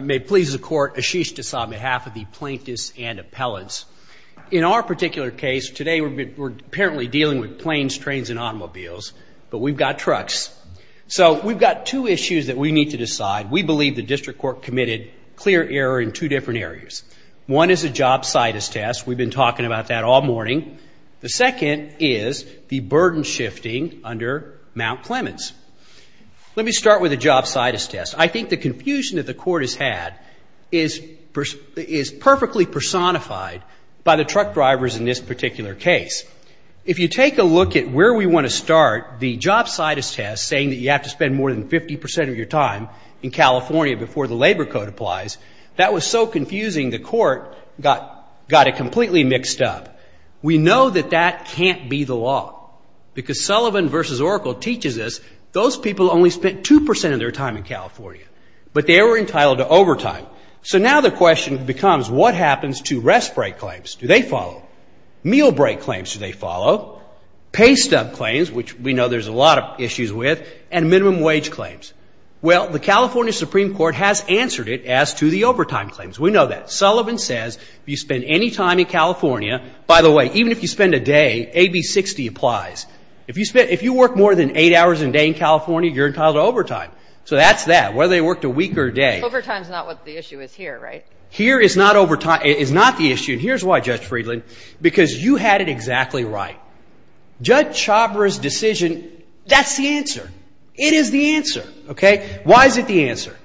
May it please the Court, Ashish Desai on behalf of the plaintiffs and appellants. In our particular case today we're apparently dealing with planes, trains, and automobiles, but we've got trucks. So we've got two issues that we need to decide. We believe the District Court committed clear error in two different areas. One is a job situs test. We've been talking about that all morning. The second is the burden shifting under Mount Clemens. Let me start with the job situs test. I think the confusion that the Court has had is perfectly personified by the truck drivers in this particular case. If you take a look at where we want to start, the job situs test saying that you have to spend more than 50% of your time in California before the labor code applies, that was so confusing the Court got it completely mixed up. We know that that can't be the law because Sullivan v. Oracle teaches us those people only spent 2% of their time in California, but they were entitled to overtime. So now the question becomes what happens to rest break claims? Do they follow? Meal break claims do they follow? Pay stub claims, which we know there's a lot of issues with, and minimum wage claims. Well, the California Supreme Court has answered it as to the overtime claims. We know that. Sullivan says if you spend any time in California, by the way, even if you spend a day, AB 60 applies. If you work more than eight hours a day in California, you're entitled to overtime. So that's that. Whether they worked a week or a day. Overtime is not what the issue is here, right? Here is not overtime. It is not the issue. And here's why, Judge Friedland, because you had it exactly right. Judge Chhabra's decision, that's the answer. It is the answer, okay? Why is it the answer?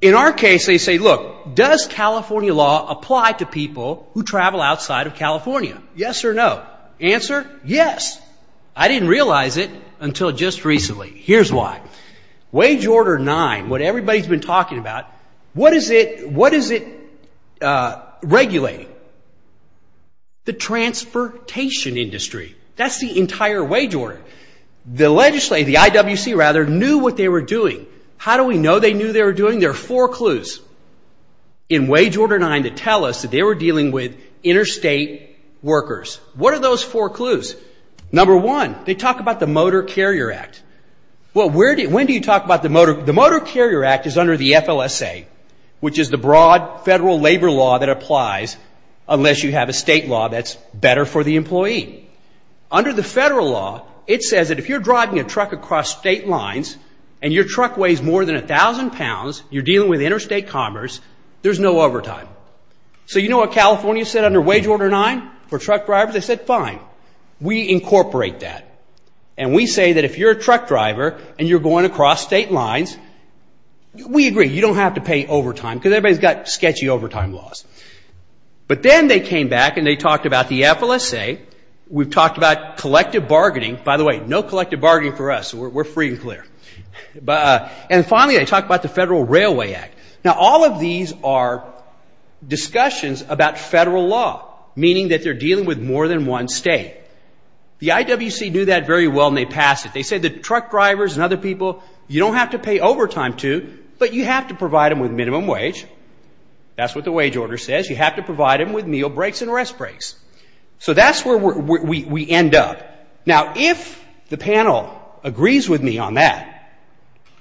In our case, they say, look, does California law apply to people who travel outside of California? Yes or no? Answer? Yes. I didn't realize it until just recently. Here's why. Wage Order 9, what everybody's been talking about, what is it, what is it regulating? The transportation industry. That's the entire wage order. The legislative, the IWC rather, knew what they were doing. How do we know they knew they were doing? There are four clues in Wage Order 9 that tell us that they were dealing with four clues. Number one, they talk about the Motor Carrier Act. Well, where did, when do you talk about the Motor, the Motor Carrier Act is under the FLSA, which is the broad federal labor law that applies unless you have a state law that's better for the employee. Under the federal law, it says that if you're driving a truck across state lines and your truck weighs more than a thousand pounds, you're dealing with interstate commerce, there's no overtime. So you know what California said under Wage Order 9 for truck drivers? They said, fine, we incorporate that. And we say that if you're a truck driver and you're going across state lines, we agree, you don't have to pay overtime because everybody's got sketchy overtime laws. But then they came back and they talked about the FLSA. We've talked about collective bargaining. By the way, no collective bargaining for us. We're free and clear. And finally, they talked about the federal law, meaning that they're dealing with more than one state. The IWC knew that very well and they passed it. They said that truck drivers and other people, you don't have to pay overtime to, but you have to provide them with minimum wage. That's what the Wage Order says. You have to provide them with meal breaks and rest breaks. So that's where we end up. Now, if the panel agrees with me on that,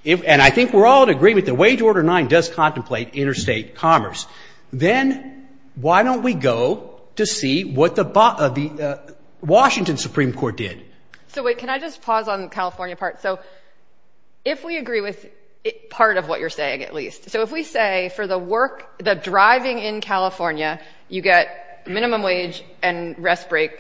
and I think we're all in agreement that Wage Order 9 does not apply, why don't we go to see what the Washington Supreme Court did? So wait, can I just pause on the California part? So if we agree with part of what you're saying, at least. So if we say for the work, the driving in California, you get minimum wage and rest break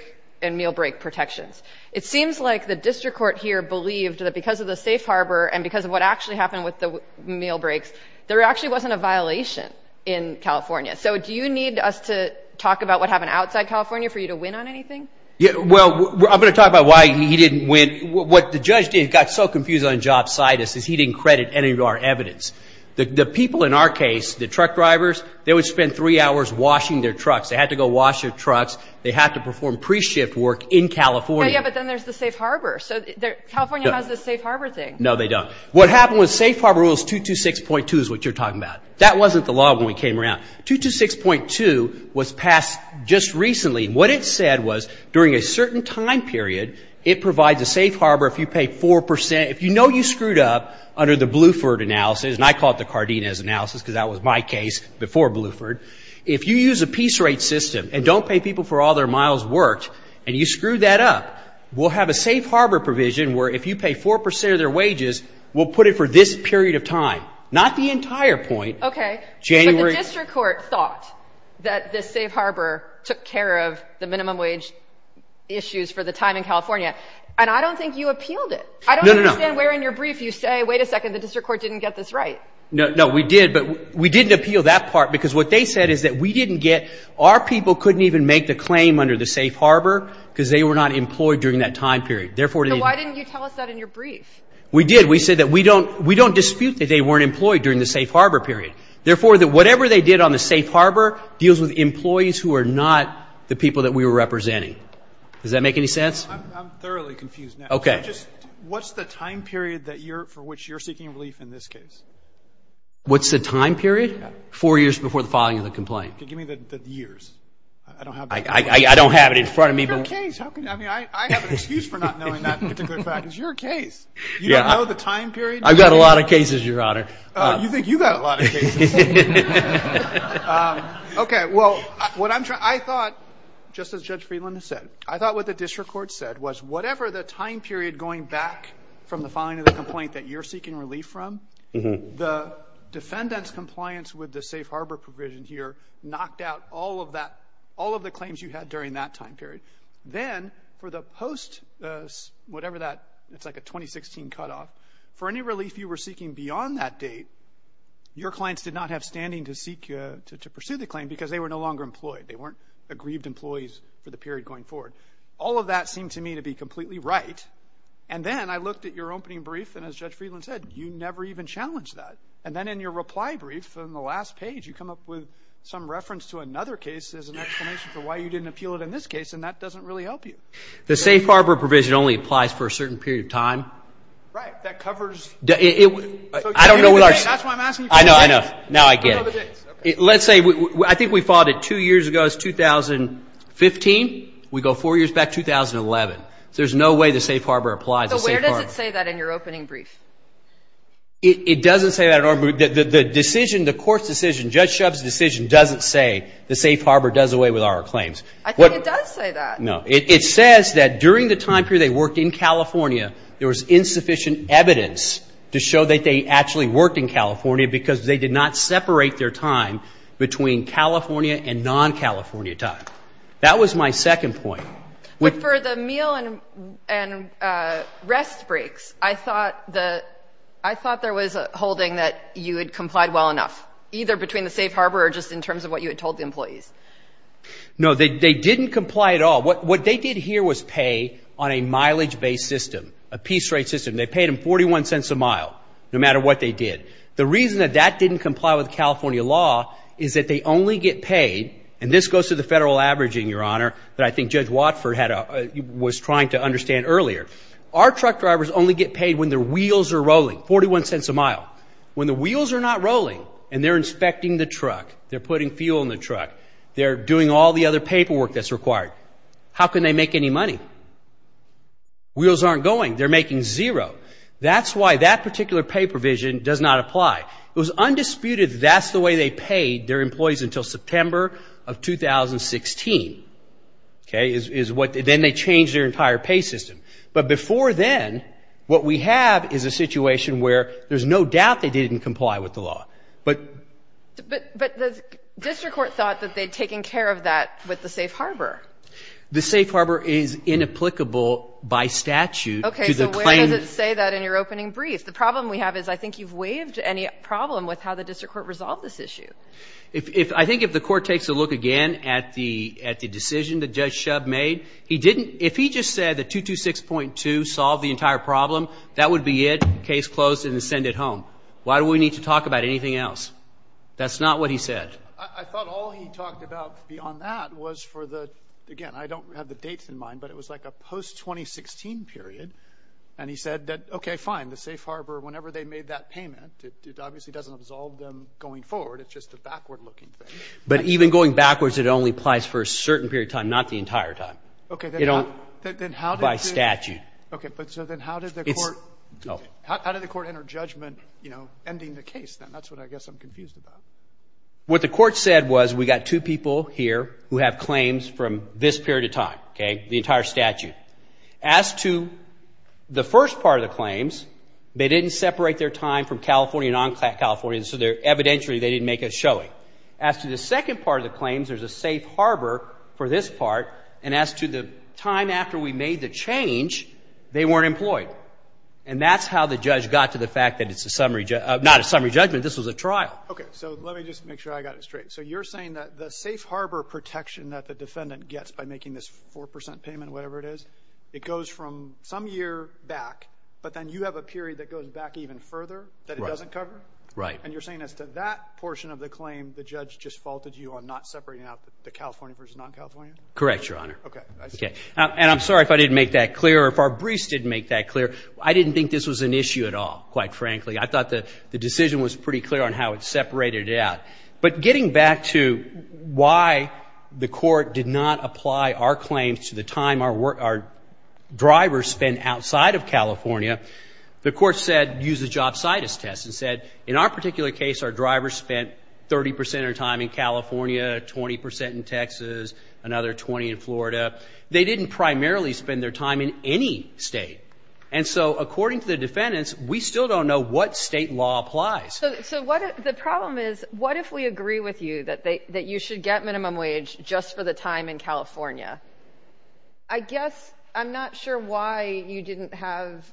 and meal break protections. It seems like the district court here believed that because of the safe harbor and because of what actually happened with the meal breaks, there actually wasn't a violation in California. So do you need us to talk about what happened outside California for you to win on anything? Yeah, well, I'm going to talk about why he didn't win. What the judge did, got so confused on job situs, is he didn't credit any of our evidence. The people in our case, the truck drivers, they would spend three hours washing their trucks. They had to go wash their trucks. They had to perform pre-shift work in California. Yeah, but then there's the safe harbor. So California has this safe harbor thing. No, they don't. What you're talking about? That wasn't the law when we came around. 226.2 was passed just recently. What it said was during a certain time period, it provides a safe harbor if you pay 4%. If you know you screwed up under the Bluford analysis, and I call it the Cardenas analysis because that was my case before Bluford, if you use a piece rate system and don't pay people for all their miles worked and you screw that up, we'll have a safe harbor provision where if you pay 4% of their wages, we'll put it for this period of time, not the entire point. Okay, but the district court thought that the safe harbor took care of the minimum wage issues for the time in California, and I don't think you appealed it. I don't understand where in your brief you say, wait a second, the district court didn't get this right. No, we did, but we didn't appeal that part because what they said is that we didn't get, our people couldn't even make the claim under the safe harbor because they were not employed during that time period. So why didn't you tell us that in your brief? We did, we said that we don't dispute that they weren't employed during the safe harbor period. Therefore, that whatever they did on the safe harbor deals with employees who are not the people that we were representing. Does that make any sense? I'm thoroughly confused now. Okay. What's the time period for which you're seeking relief in this case? What's the time period? Four years before the filing of the complaint. Okay, give me the years. I don't have it in front of me. I have an excuse for not knowing that particular fact. It's your case. You don't know the time period? I've got a lot of cases, Your Honor. You think you've got a lot of cases. Okay, well, what I'm trying, I thought, just as Judge Friedlander said, I thought what the district court said was whatever the time period going back from the filing of the complaint that you're seeking relief from, the defendant's compliance with the safe harbor provision here knocked out all of that, all of the claims you had during that time period. Then, for the post, whatever that, it's like a 2016 cutoff, for any relief you were seeking beyond that date, your clients did not have standing to seek, to pursue the claim because they were no longer employed. They weren't aggrieved employees for the period going forward. All of that seemed to me to be completely right. And then I looked at your opening brief, and as Judge Friedlander said, you never even challenged that. And then in your reply brief, in the last page, you come up with some reference to another case as an explanation for why you didn't appeal it in this case, and that doesn't really help you. The safe harbor provision only applies for a certain period of time. Right. That covers... I don't know what our... That's why I'm asking you... I know, I know. Now I get it. Let's say, I think we filed it two years ago. It's 2015. We go four years back, 2011. There's no way the safe harbor applies. So where does it say that in your opening brief? It doesn't say that at all. The decision, the court's decision, Judge Shub's decision, doesn't say the safe harbor does away with our claims. I think it does say that. No. It says that during the time period they worked in California, there was insufficient evidence to show that they actually worked in California because they did not separate their time between California and non-California time. That was my second point. But for the meal and rest breaks, I thought there was a holding that you had complied well enough, either between the safe harbor or just in terms of what you had told the employees. No, they didn't comply at all. What they did here was pay on a mileage-based system, a piece rate system. They paid them 41 cents a mile, no matter what they did. The reason that that didn't comply with California law is that they only get paid, and this goes to the federal averaging, Your Honor, that I think Judge Watford was trying to understand earlier. Our truck drivers only get paid when their wheels are rolling, 41 cents a mile. When the wheels are not rolling and they're inspecting the truck, they're putting fuel in the truck, they're doing all the other paperwork that's required, how can they make any money? Wheels aren't going. They're making zero. That's why that particular pay provision does not apply. It was undisputed that that's the way they paid their employees until September of 2016. Okay? Then they changed their entire pay system. But before then, what we have is a situation where there's no doubt they didn't comply with the law. But the district court thought that they'd taken care of that with the safe harbor. The safe harbor is inapplicable by statute to the claimant. Okay. So where does it say that in your opening brief? The problem we have is I think you've waived any problem with how the district court resolved this issue. I think if the court takes a look again at the decision that Judge Shub made, if he just said that 226.2 solved the entire problem, that would be it, case closed, and send it home. Why do we need to talk about anything else? That's not what he said. I thought all he talked about beyond that was for the, again, I don't have the dates in mind, but it was like a post-2016 period. And he said that, okay, fine, the safe harbor, whenever they made that payment, it obviously doesn't absolve them going forward. It's just a backward-looking thing. But even going backwards, it only applies for a certain period of time, not the entire time. Okay. By statute. Okay. But so then how did the court enter judgment, you know, ending the case then? That's what I guess I'm confused about. What the court said was we've got two people here who have claims from this period of time, okay, the entire statute. As to the first part of the claims, they didn't separate their time from California and non-California, so evidentially they didn't make a showing. As to the second part of the claims, there's a safe harbor for this part. And as to the time after we made the change, they weren't employed. And that's how the judge got to the fact that it's a summary, not a summary judgment, this was a trial. Okay. So let me just make sure I got it straight. So you're saying that the safe harbor protection that the defendant gets by making this 4% payment, whatever it is, it goes from some year back, but then you have a period that goes back even further that it doesn't cover? Right. And you're saying as to that portion of the claim, the judge just faulted you on not separating out the California versus non-California? Correct, Your Honor. Okay. And I'm sorry if I didn't make that clear or if our briefs didn't make that clear. I didn't think this was an issue at all, quite frankly. I thought the decision was pretty clear on how it separated it out. But getting back to why the court did not apply our claims to the time our drivers spent outside of California, the court said, used the jobsitis test and said, in our particular case, our drivers spent 30% of their time in California, 20% in Texas, another 20 in Florida. They didn't primarily spend their time in any state. And so according to the defendants, we still don't know what state law applies. So the problem is, what if we agree with you that you should get minimum wage just for the time in California? I guess I'm not sure why you didn't have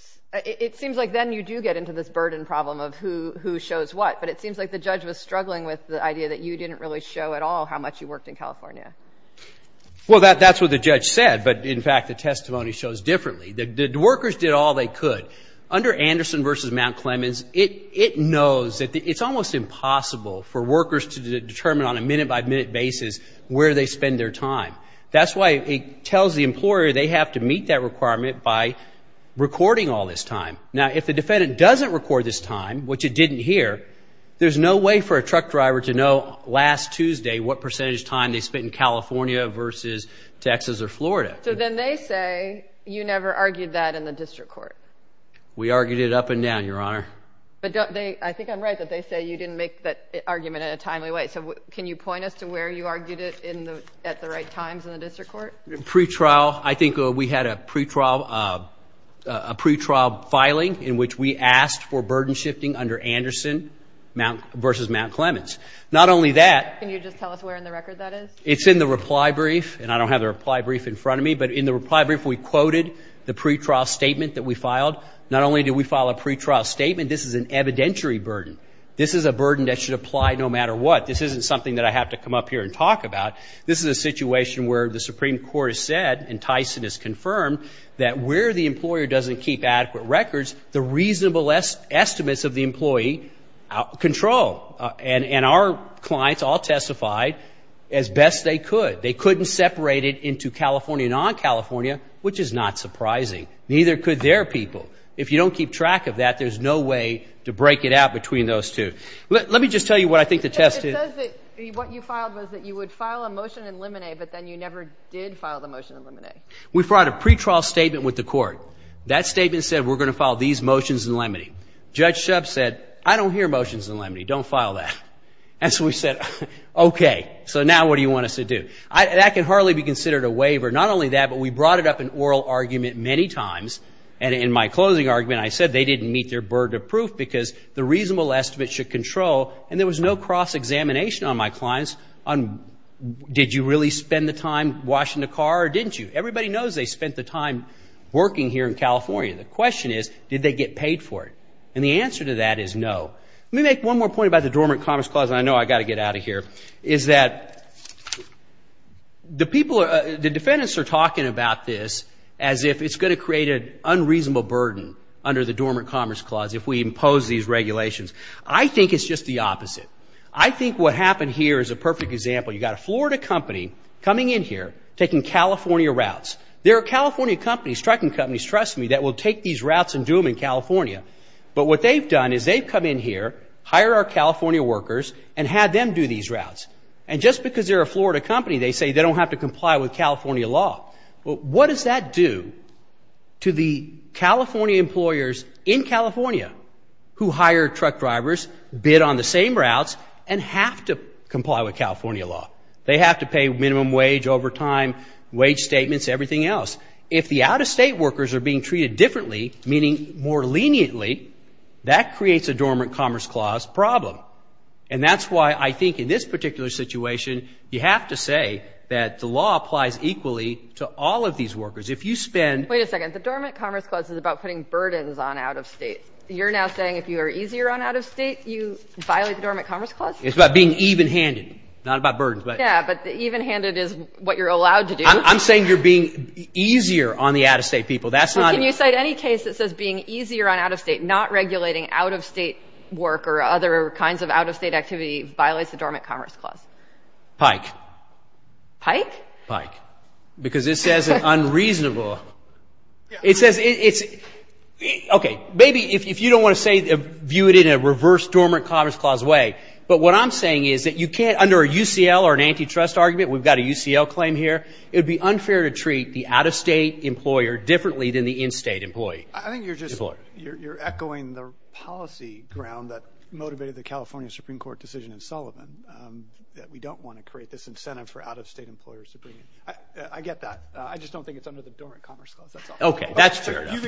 — it seems like then you do get into this burden problem of who shows what. But it seems like the judge was struggling with the idea that you didn't really show at all how much you worked in California. Well, that's what the judge said. But, in fact, the testimony shows differently. The workers did all they could. Under Anderson v. Mount Clemens, it knows that it's almost impossible for workers to determine on a minute-by-minute basis where they spend their time. That's why it tells the employer they have to meet that requirement by recording all this time. Now, if the defendant doesn't record this time, which it didn't here, there's no way for a truck driver to know last Tuesday what percentage time they spent in California versus Texas or Florida. So then they say you never argued that in the district court. We argued it up and down, Your Honor. But I think I'm right that they say you didn't make that argument in a timely way. So can you point us to where you argued it at the right times in the district court? Pre-trial. I think we had a pre-trial filing in which we asked for burden shifting under Anderson v. Mount Clemens. Not only that — Can you just tell us where in the record that is? It's in the reply brief. And I don't have the reply brief in front of me. But in the reply brief, we quoted the pre-trial statement that we filed. Not only did we file a pre-trial statement, this is an evidentiary burden. This is a burden that should apply no matter what. This isn't something that I have to come up here and talk about. This is a situation where the Supreme Court has said, and Tyson has confirmed, that where the employer doesn't keep adequate records, the reasonable estimates of the employee control. And our clients all testified as best they could. They couldn't separate it into California and non-California, which is not surprising. Neither could their people. If you don't keep track of that, there's no way to break it out between those two. Let me just tell you what I think the test is. It says that what you filed was that you would file a motion in limine, but then you never did file the motion in limine. We filed a pre-trial statement with the court. That statement said we're going to file these motions in limine. Judge Shub said, I don't hear motions in limine. Don't file that. And so we said, okay. So now what do you want us to do? That can hardly be considered a waiver. Not only that, but we brought it up in oral argument many times. And in my closing argument, I said they didn't meet their burden of proof because the reasonable estimates should control. And there was no cross-examination on my clients on did you really spend the time washing the car or didn't you? Everybody knows they spent the time working here in California. The question is, did they get paid for it? And the answer to that is no. Let me make one more point about the Dormant Commerce Clause, and I know I've got to get out of here, is that the defendants are talking about this as if it's going to create an unreasonable burden under the Dormant Commerce Clause if we impose these regulations. I think it's just the opposite. I think what happened here is a perfect example. You've got a Florida company coming in here, taking California routes. There are California companies, trucking companies, trust me, that will take these routes and do them in California. But what they've done is they've come in here, hired our California workers, and had them do these routes. And just because they're a Florida company, they say they don't have to comply with California law. Well, what does that do to the California employers in California who hire truck drivers, bid on the same routes, and have to comply with California law? They have to pay minimum wage, overtime, wage statements, everything else. If the out-of-state workers are being treated differently, meaning more leniently, that creates a Dormant Commerce Clause problem. And that's why I think in this particular situation, you have to say that the law applies equally to all of these workers. If you spend – Wait a second. The Dormant Commerce Clause is about putting burdens on out-of-state. You're now saying if you are easier on out-of-state, you violate the Dormant Commerce Clause? It's about being even-handed, not about burdens. Yeah, but even-handed is what you're allowed to do. I'm saying you're being easier on the out-of-state people. Can you cite any case that says being easier on out-of-state, not regulating out-of-state work or other kinds of out-of-state activity, violates the Dormant Commerce Clause? Pike. Pike? Pike. Because it says unreasonable. It says it's – okay, maybe if you don't want to say – view it in a reverse Dormant Commerce Clause way, but what I'm saying is that you can't, under a UCL or an antitrust argument, we've got a UCL claim here, it would be unfair to treat the out-of-state employer differently than the in-state employee. I think you're just – you're echoing the policy ground that motivated the California Supreme Court decision in Sullivan, that we don't want to create this incentive for out-of-state employers to bring in. I get that. I just don't think it's under the Dormant Commerce Clause. That's all. Okay, that's fair enough.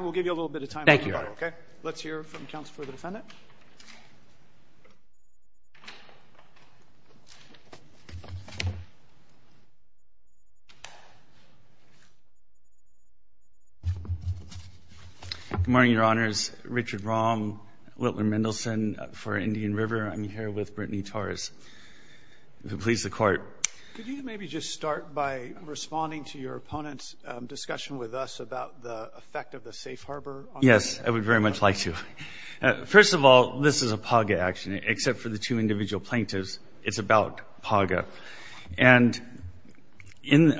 We'll give you a little bit of time. Thank you, Your Honor. Okay. Let's hear from counsel for the defendant. Good morning, Your Honors. Richard Rom, Whittler Mendelsohn for Indian River. I'm here with Brittany Torres who pleads the Court. Could you maybe just start by responding to your opponent's discussion with us about the effect of the safe harbor? Yes, I would very much like to. First of all, this is a PAGA action, except for the two individual plaintiffs. It's about PAGA. And in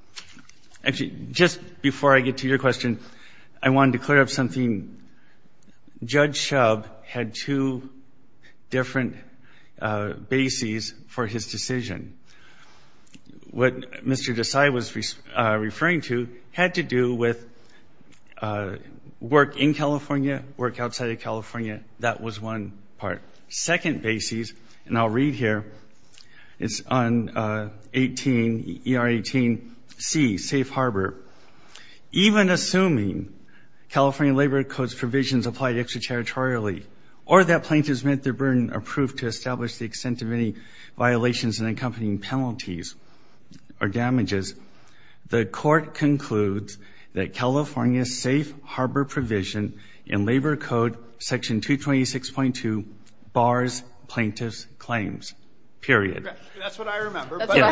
– actually, just before I get to your question, I wanted to clear up something. Judge Shub had two different bases for his decision. What Mr. Desai was referring to had to do with work in California, work outside of California. That was one part. Second basis, and I'll read here, it's on ER 18C, safe harbor. Even assuming California Labor Codes provisions applied extraterritorially or that plaintiffs met their burden approved to establish the extent of any accompanying penalties or damages, the Court concludes that California's safe harbor provision in Labor Code Section 226.2 bars plaintiffs' claims, period. That's what I remember. Your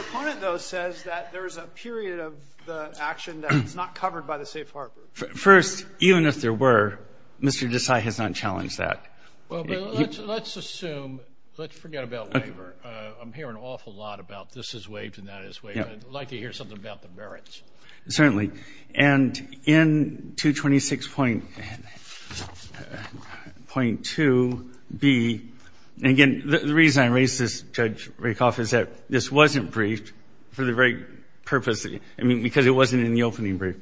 opponent, though, says that there is a period of the action that is not covered by the safe harbor. First, even if there were, Mr. Desai has not challenged that. Let's assume, let's forget about labor. I'm hearing an awful lot about this is waived and that is waived. I'd like to hear something about the merits. Certainly. And in 226.2B, again, the reason I raised this, Judge Rakoff, is that this wasn't briefed for the very purpose, I mean, because it wasn't in the opening brief.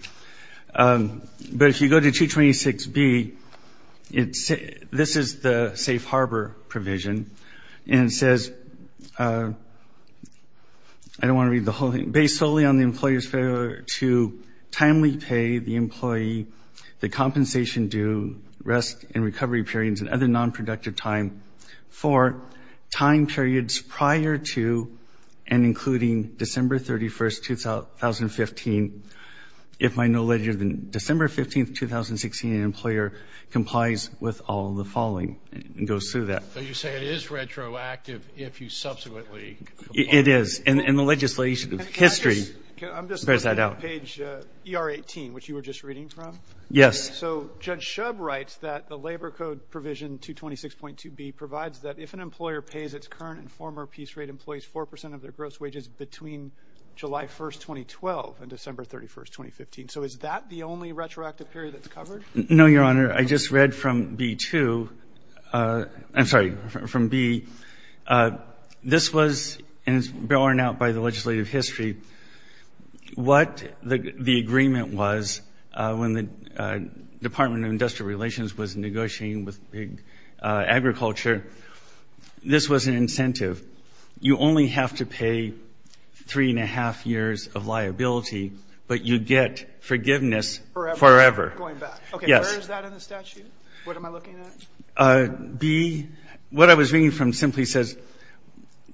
But if you go to 226.2B, this is the safe harbor provision. And it says, I don't want to read the whole thing, based solely on the employer's failure to timely pay the employee the compensation due, rest and recovery periods, and other nonproductive time for time periods prior to and including December 31, 2015. If I know later than December 15, 2016, an employer complies with all the following and goes through that. So you say it is retroactive if you subsequently comply? It is. And the legislation, the history bears that out. I'm just looking at page ER18, which you were just reading from. Yes. So Judge Shub writes that the labor code provision 226.2B provides that if an employer pays its current and former piece rate employees 4 percent of their gross wages between July 1, 2012 and December 31, 2015. So is that the only retroactive period that's covered? No, Your Honor. I just read from B2. I'm sorry, from B. This was, and it's borne out by the legislative history, what the agreement was when the Department of Industrial Relations was negotiating with agriculture. This was an incentive. You only have to pay three-and-a-half years of liability, but you get forgiveness forever. Going back. Yes. Okay, where is that in the statute? What am I looking at? B, what I was reading from simply says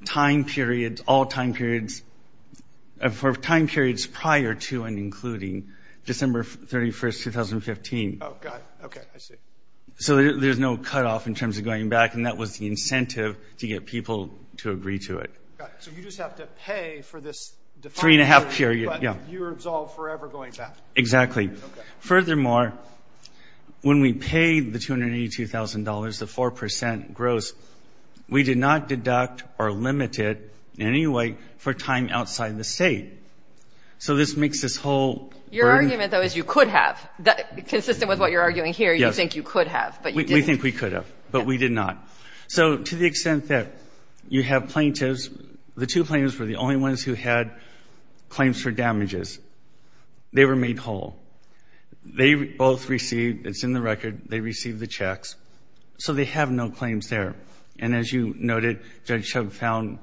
time periods, all time periods, for time periods prior to and including December 31, 2015. Oh, got it. Okay, I see. So there's no cutoff in terms of going back, and that was the incentive to get people to agree to it. Got it. So you just have to pay for this defined period. Three-and-a-half period, yes. But you were absolved forever going back. Exactly. Okay. Furthermore, when we paid the $282,000, the 4 percent gross, we did not deduct or limit it in any way for time outside the state. So this makes this whole burden. Your argument, though, is you could have. Consistent with what you're arguing here, you think you could have. Yes. We think we could have, but we did not. So to the extent that you have plaintiffs, the two plaintiffs were the only ones who had claims for damages. They were made whole. They both received, it's in the record, they received the checks, so they have no claims there. And as you noted, Judge Chubb found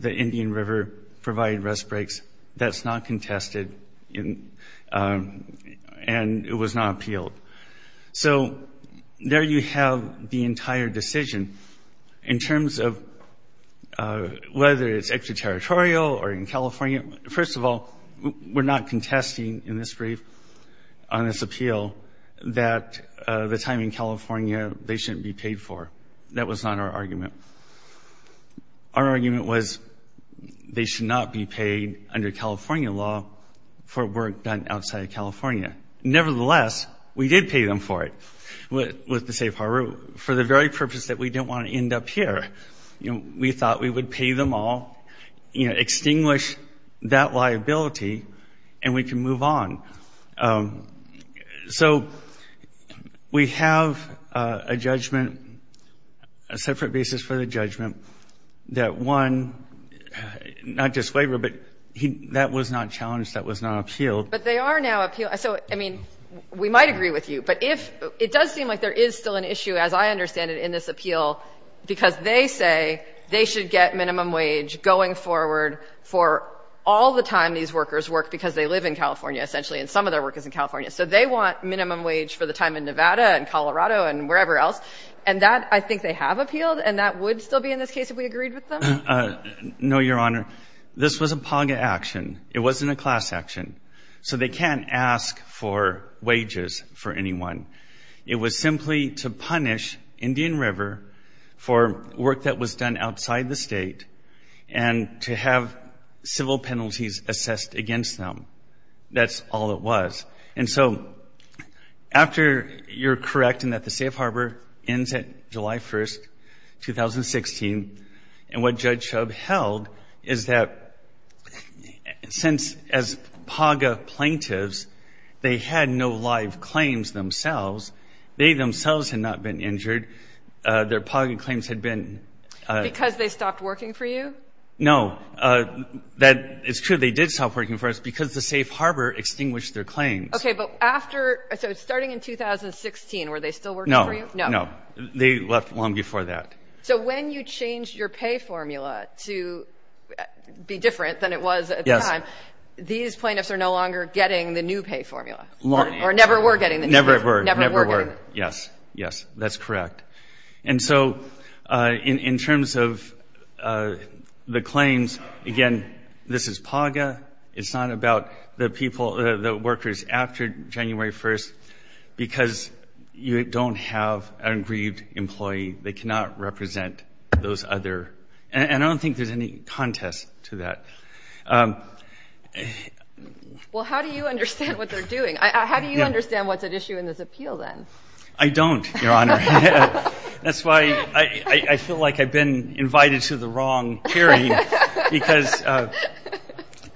the Indian River provided rest breaks. That's not contested, and it was not appealed. So there you have the entire decision, in terms of whether it's extraterritorial or in California. First of all, we're not contesting in this brief on this appeal that the time in California they shouldn't be paid for. That was not our argument. Our argument was they should not be paid under California law for work done outside of California. Nevertheless, we did pay them for it with the safe harbor, for the very purpose that we didn't want to end up here. We thought we would pay them all, extinguish that liability, and we can move on. So we have a judgment, a separate basis for the judgment, that one, not just waiver, but that was not challenged, that was not appealed. But they are now appealed. So, I mean, we might agree with you. But if it does seem like there is still an issue, as I understand it, in this appeal, because they say they should get minimum wage going forward for all the time these workers work because they live in California, essentially, and some of their work is in California, so they want minimum wage for the time in Nevada and Colorado and wherever else, and that I think they have appealed, and that would still be in this case if we agreed with them? No, Your Honor. This was a POG action. It wasn't a class action. So they can't ask for wages for anyone. It was simply to punish Indian River for work that was done outside the state and to have civil penalties assessed against them. That's all it was. And so after you're correct in that the safe harbor ends at July 1, 2016, and what Judge Shub held is that since, as POG plaintiffs, they had no live claims themselves, they themselves had not been injured. Their POG claims had been. Because they stopped working for you? No. That is true. They did stop working for us because the safe harbor extinguished their claims. Okay. But after so starting in 2016, were they still working for you? No. No. They left long before that. Okay. So when you changed your pay formula to be different than it was at the time, these plaintiffs are no longer getting the new pay formula? Or never were getting the new pay formula? Never were. Never were. Yes. Yes. That's correct. And so in terms of the claims, again, this is POG-a. It's not about the people, the workers after January 1 because you don't have an undistributed employee. They cannot represent those other. And I don't think there's any contest to that. Well, how do you understand what they're doing? How do you understand what's at issue in this appeal then? I don't, Your Honor. That's why I feel like I've been invited to the wrong hearing because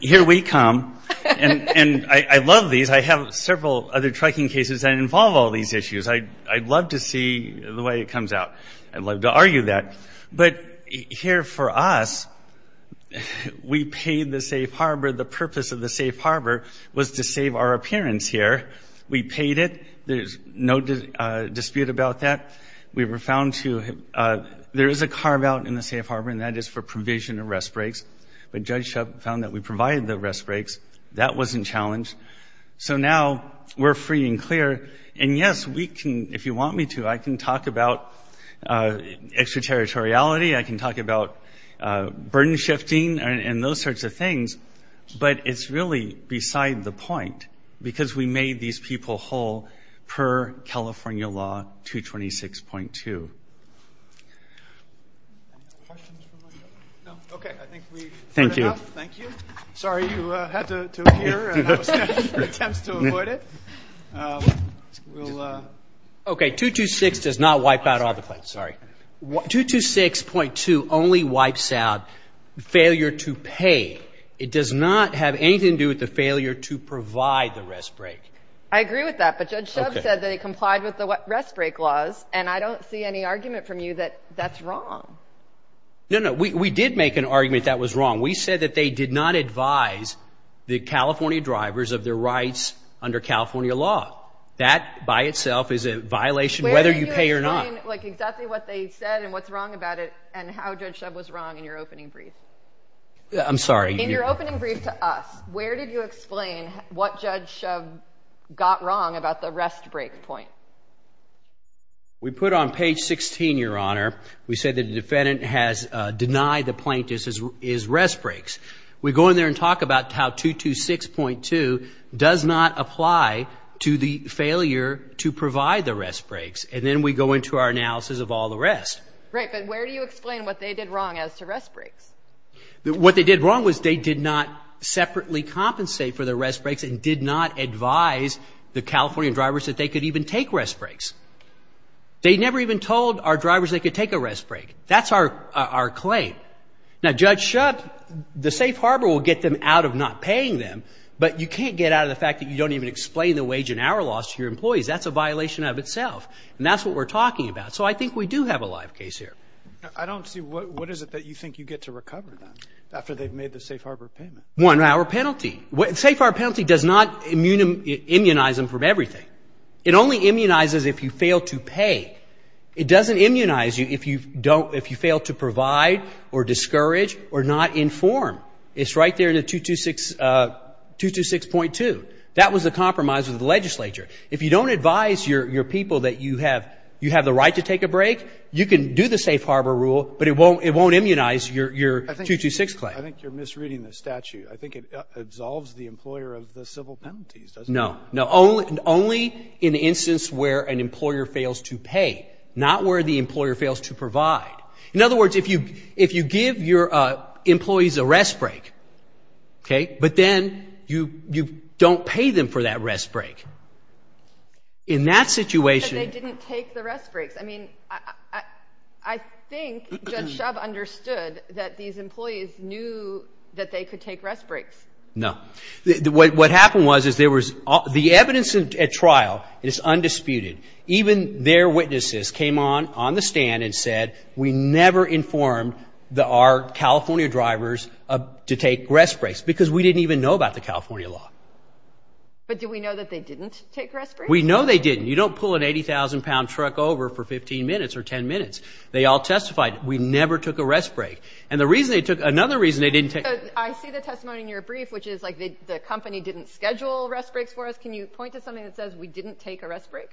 here we come. And I love these. I have several other tracking cases that involve all these issues. I'd love to see the way it comes out. I'd love to argue that. But here for us, we paid the safe harbor. The purpose of the safe harbor was to save our appearance here. We paid it. There's no dispute about that. We were found to have ‑‑ there is a carve out in the safe harbor, and that is for provision of rest breaks. But Judge Shub found that we provided the rest breaks. That wasn't challenged. So now we're free and clear. And, yes, we can, if you want me to, I can talk about extraterritoriality. I can talk about burden shifting and those sorts of things. But it's really beside the point because we made these people whole per California law 226.2. Okay. Thank you. Thank you. Sorry, you had to appear. That was an attempt to avoid it. We'll ‑‑ Okay, 226 does not wipe out all the claims. Sorry. 226.2 only wipes out failure to pay. It does not have anything to do with the failure to provide the rest break. I agree with that. But Judge Shub said that he complied with the rest break laws, and I don't see any argument from you that that's wrong. No, no, we did make an argument that was wrong. We said that they did not advise the California drivers of their rights under California law. That by itself is a violation whether you pay or not. Where did you explain exactly what they said and what's wrong about it and how Judge Shub was wrong in your opening brief? I'm sorry. In your opening brief to us, where did you explain what Judge Shub got wrong about the rest break point? We put on page 16, Your Honor, we said that the defendant has denied the plaintiff his rest breaks. We go in there and talk about how 226.2 does not apply to the failure to provide the rest breaks. And then we go into our analysis of all the rest. Right, but where do you explain what they did wrong as to rest breaks? What they did wrong was they did not separately compensate for the rest breaks and did not advise the California drivers that they could even take rest breaks. They never even told our drivers they could take a rest break. That's our claim. Now, Judge Shub, the safe harbor will get them out of not paying them, but you can't get out of the fact that you don't even explain the wage and hour loss to your employees. That's a violation of itself, and that's what we're talking about. So I think we do have a live case here. I don't see what is it that you think you get to recover after they've made the safe harbor payment. One-hour penalty. The safe harbor penalty does not immunize them from everything. It only immunizes if you fail to pay. It doesn't immunize you if you fail to provide or discourage or not inform. It's right there in the 226.2. That was the compromise of the legislature. If you don't advise your people that you have the right to take a break, you can do the safe harbor rule, but it won't immunize your 226 claim. I think you're misreading the statute. No, no. Only in the instance where an employer fails to pay, not where the employer fails to provide. In other words, if you give your employees a rest break, but then you don't pay them for that rest break, in that situation. But they didn't take the rest breaks. I mean, I think Judge Shub understood that these employees knew that they could take rest breaks. No. What happened was, the evidence at trial is undisputed. Even their witnesses came on the stand and said, we never informed our California drivers to take rest breaks because we didn't even know about the California law. But do we know that they didn't take rest breaks? We know they didn't. You don't pull an 80,000-pound truck over for 15 minutes or 10 minutes. They all testified, we never took a rest break. And another reason they didn't take a rest break. I see the testimony in your brief, which is like the company didn't schedule rest breaks for us. Can you point to something that says we didn't take a rest break?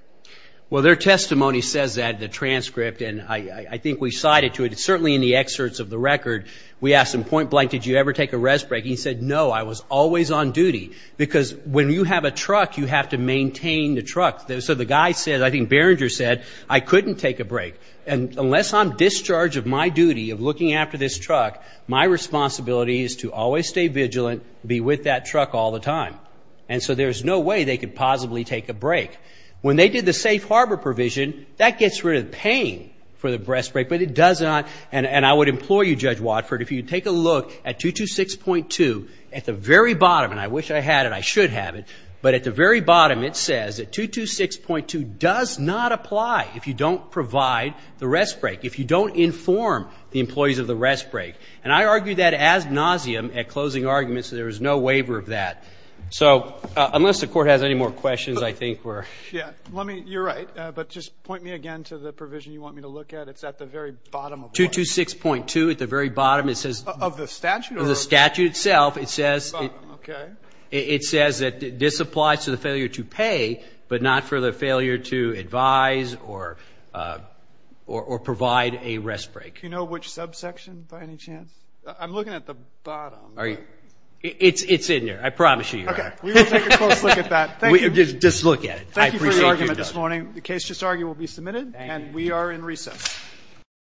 Well, their testimony says that in the transcript, and I think we cited to it. It's certainly in the excerpts of the record. We asked them, point blank, did you ever take a rest break? He said, no, I was always on duty. Because when you have a truck, you have to maintain the truck. So the guy said, I think Behringer said, I couldn't take a break. And unless I'm discharged of my duty of looking after this truck, my responsibility is to always stay vigilant, be with that truck all the time. And so there's no way they could possibly take a break. When they did the safe harbor provision, that gets rid of the pain for the rest break, but it does not, and I would implore you, Judge Watford, if you take a look at 226.2, at the very bottom, and I wish I had it, I should have it, but at the very bottom it says that 226.2 does not apply if you don't provide the rest break, if you don't inform the employees of the rest break. And I argue that as nauseam at closing arguments, so there is no waiver of that. So unless the Court has any more questions, I think we're ‑‑ Yeah. You're right. But just point me again to the provision you want me to look at. It's at the very bottom of what? 226.2 at the very bottom. Of the statute? Of the statute itself. Okay. It says that this applies to the failure to pay, but not for the failure to advise or provide a rest break. Do you know which subsection, by any chance? I'm looking at the bottom. It's in there. I promise you you're right. Okay. We will take a close look at that. Just look at it. Thank you for your argument this morning. The case just argued will be submitted, and we are in recess.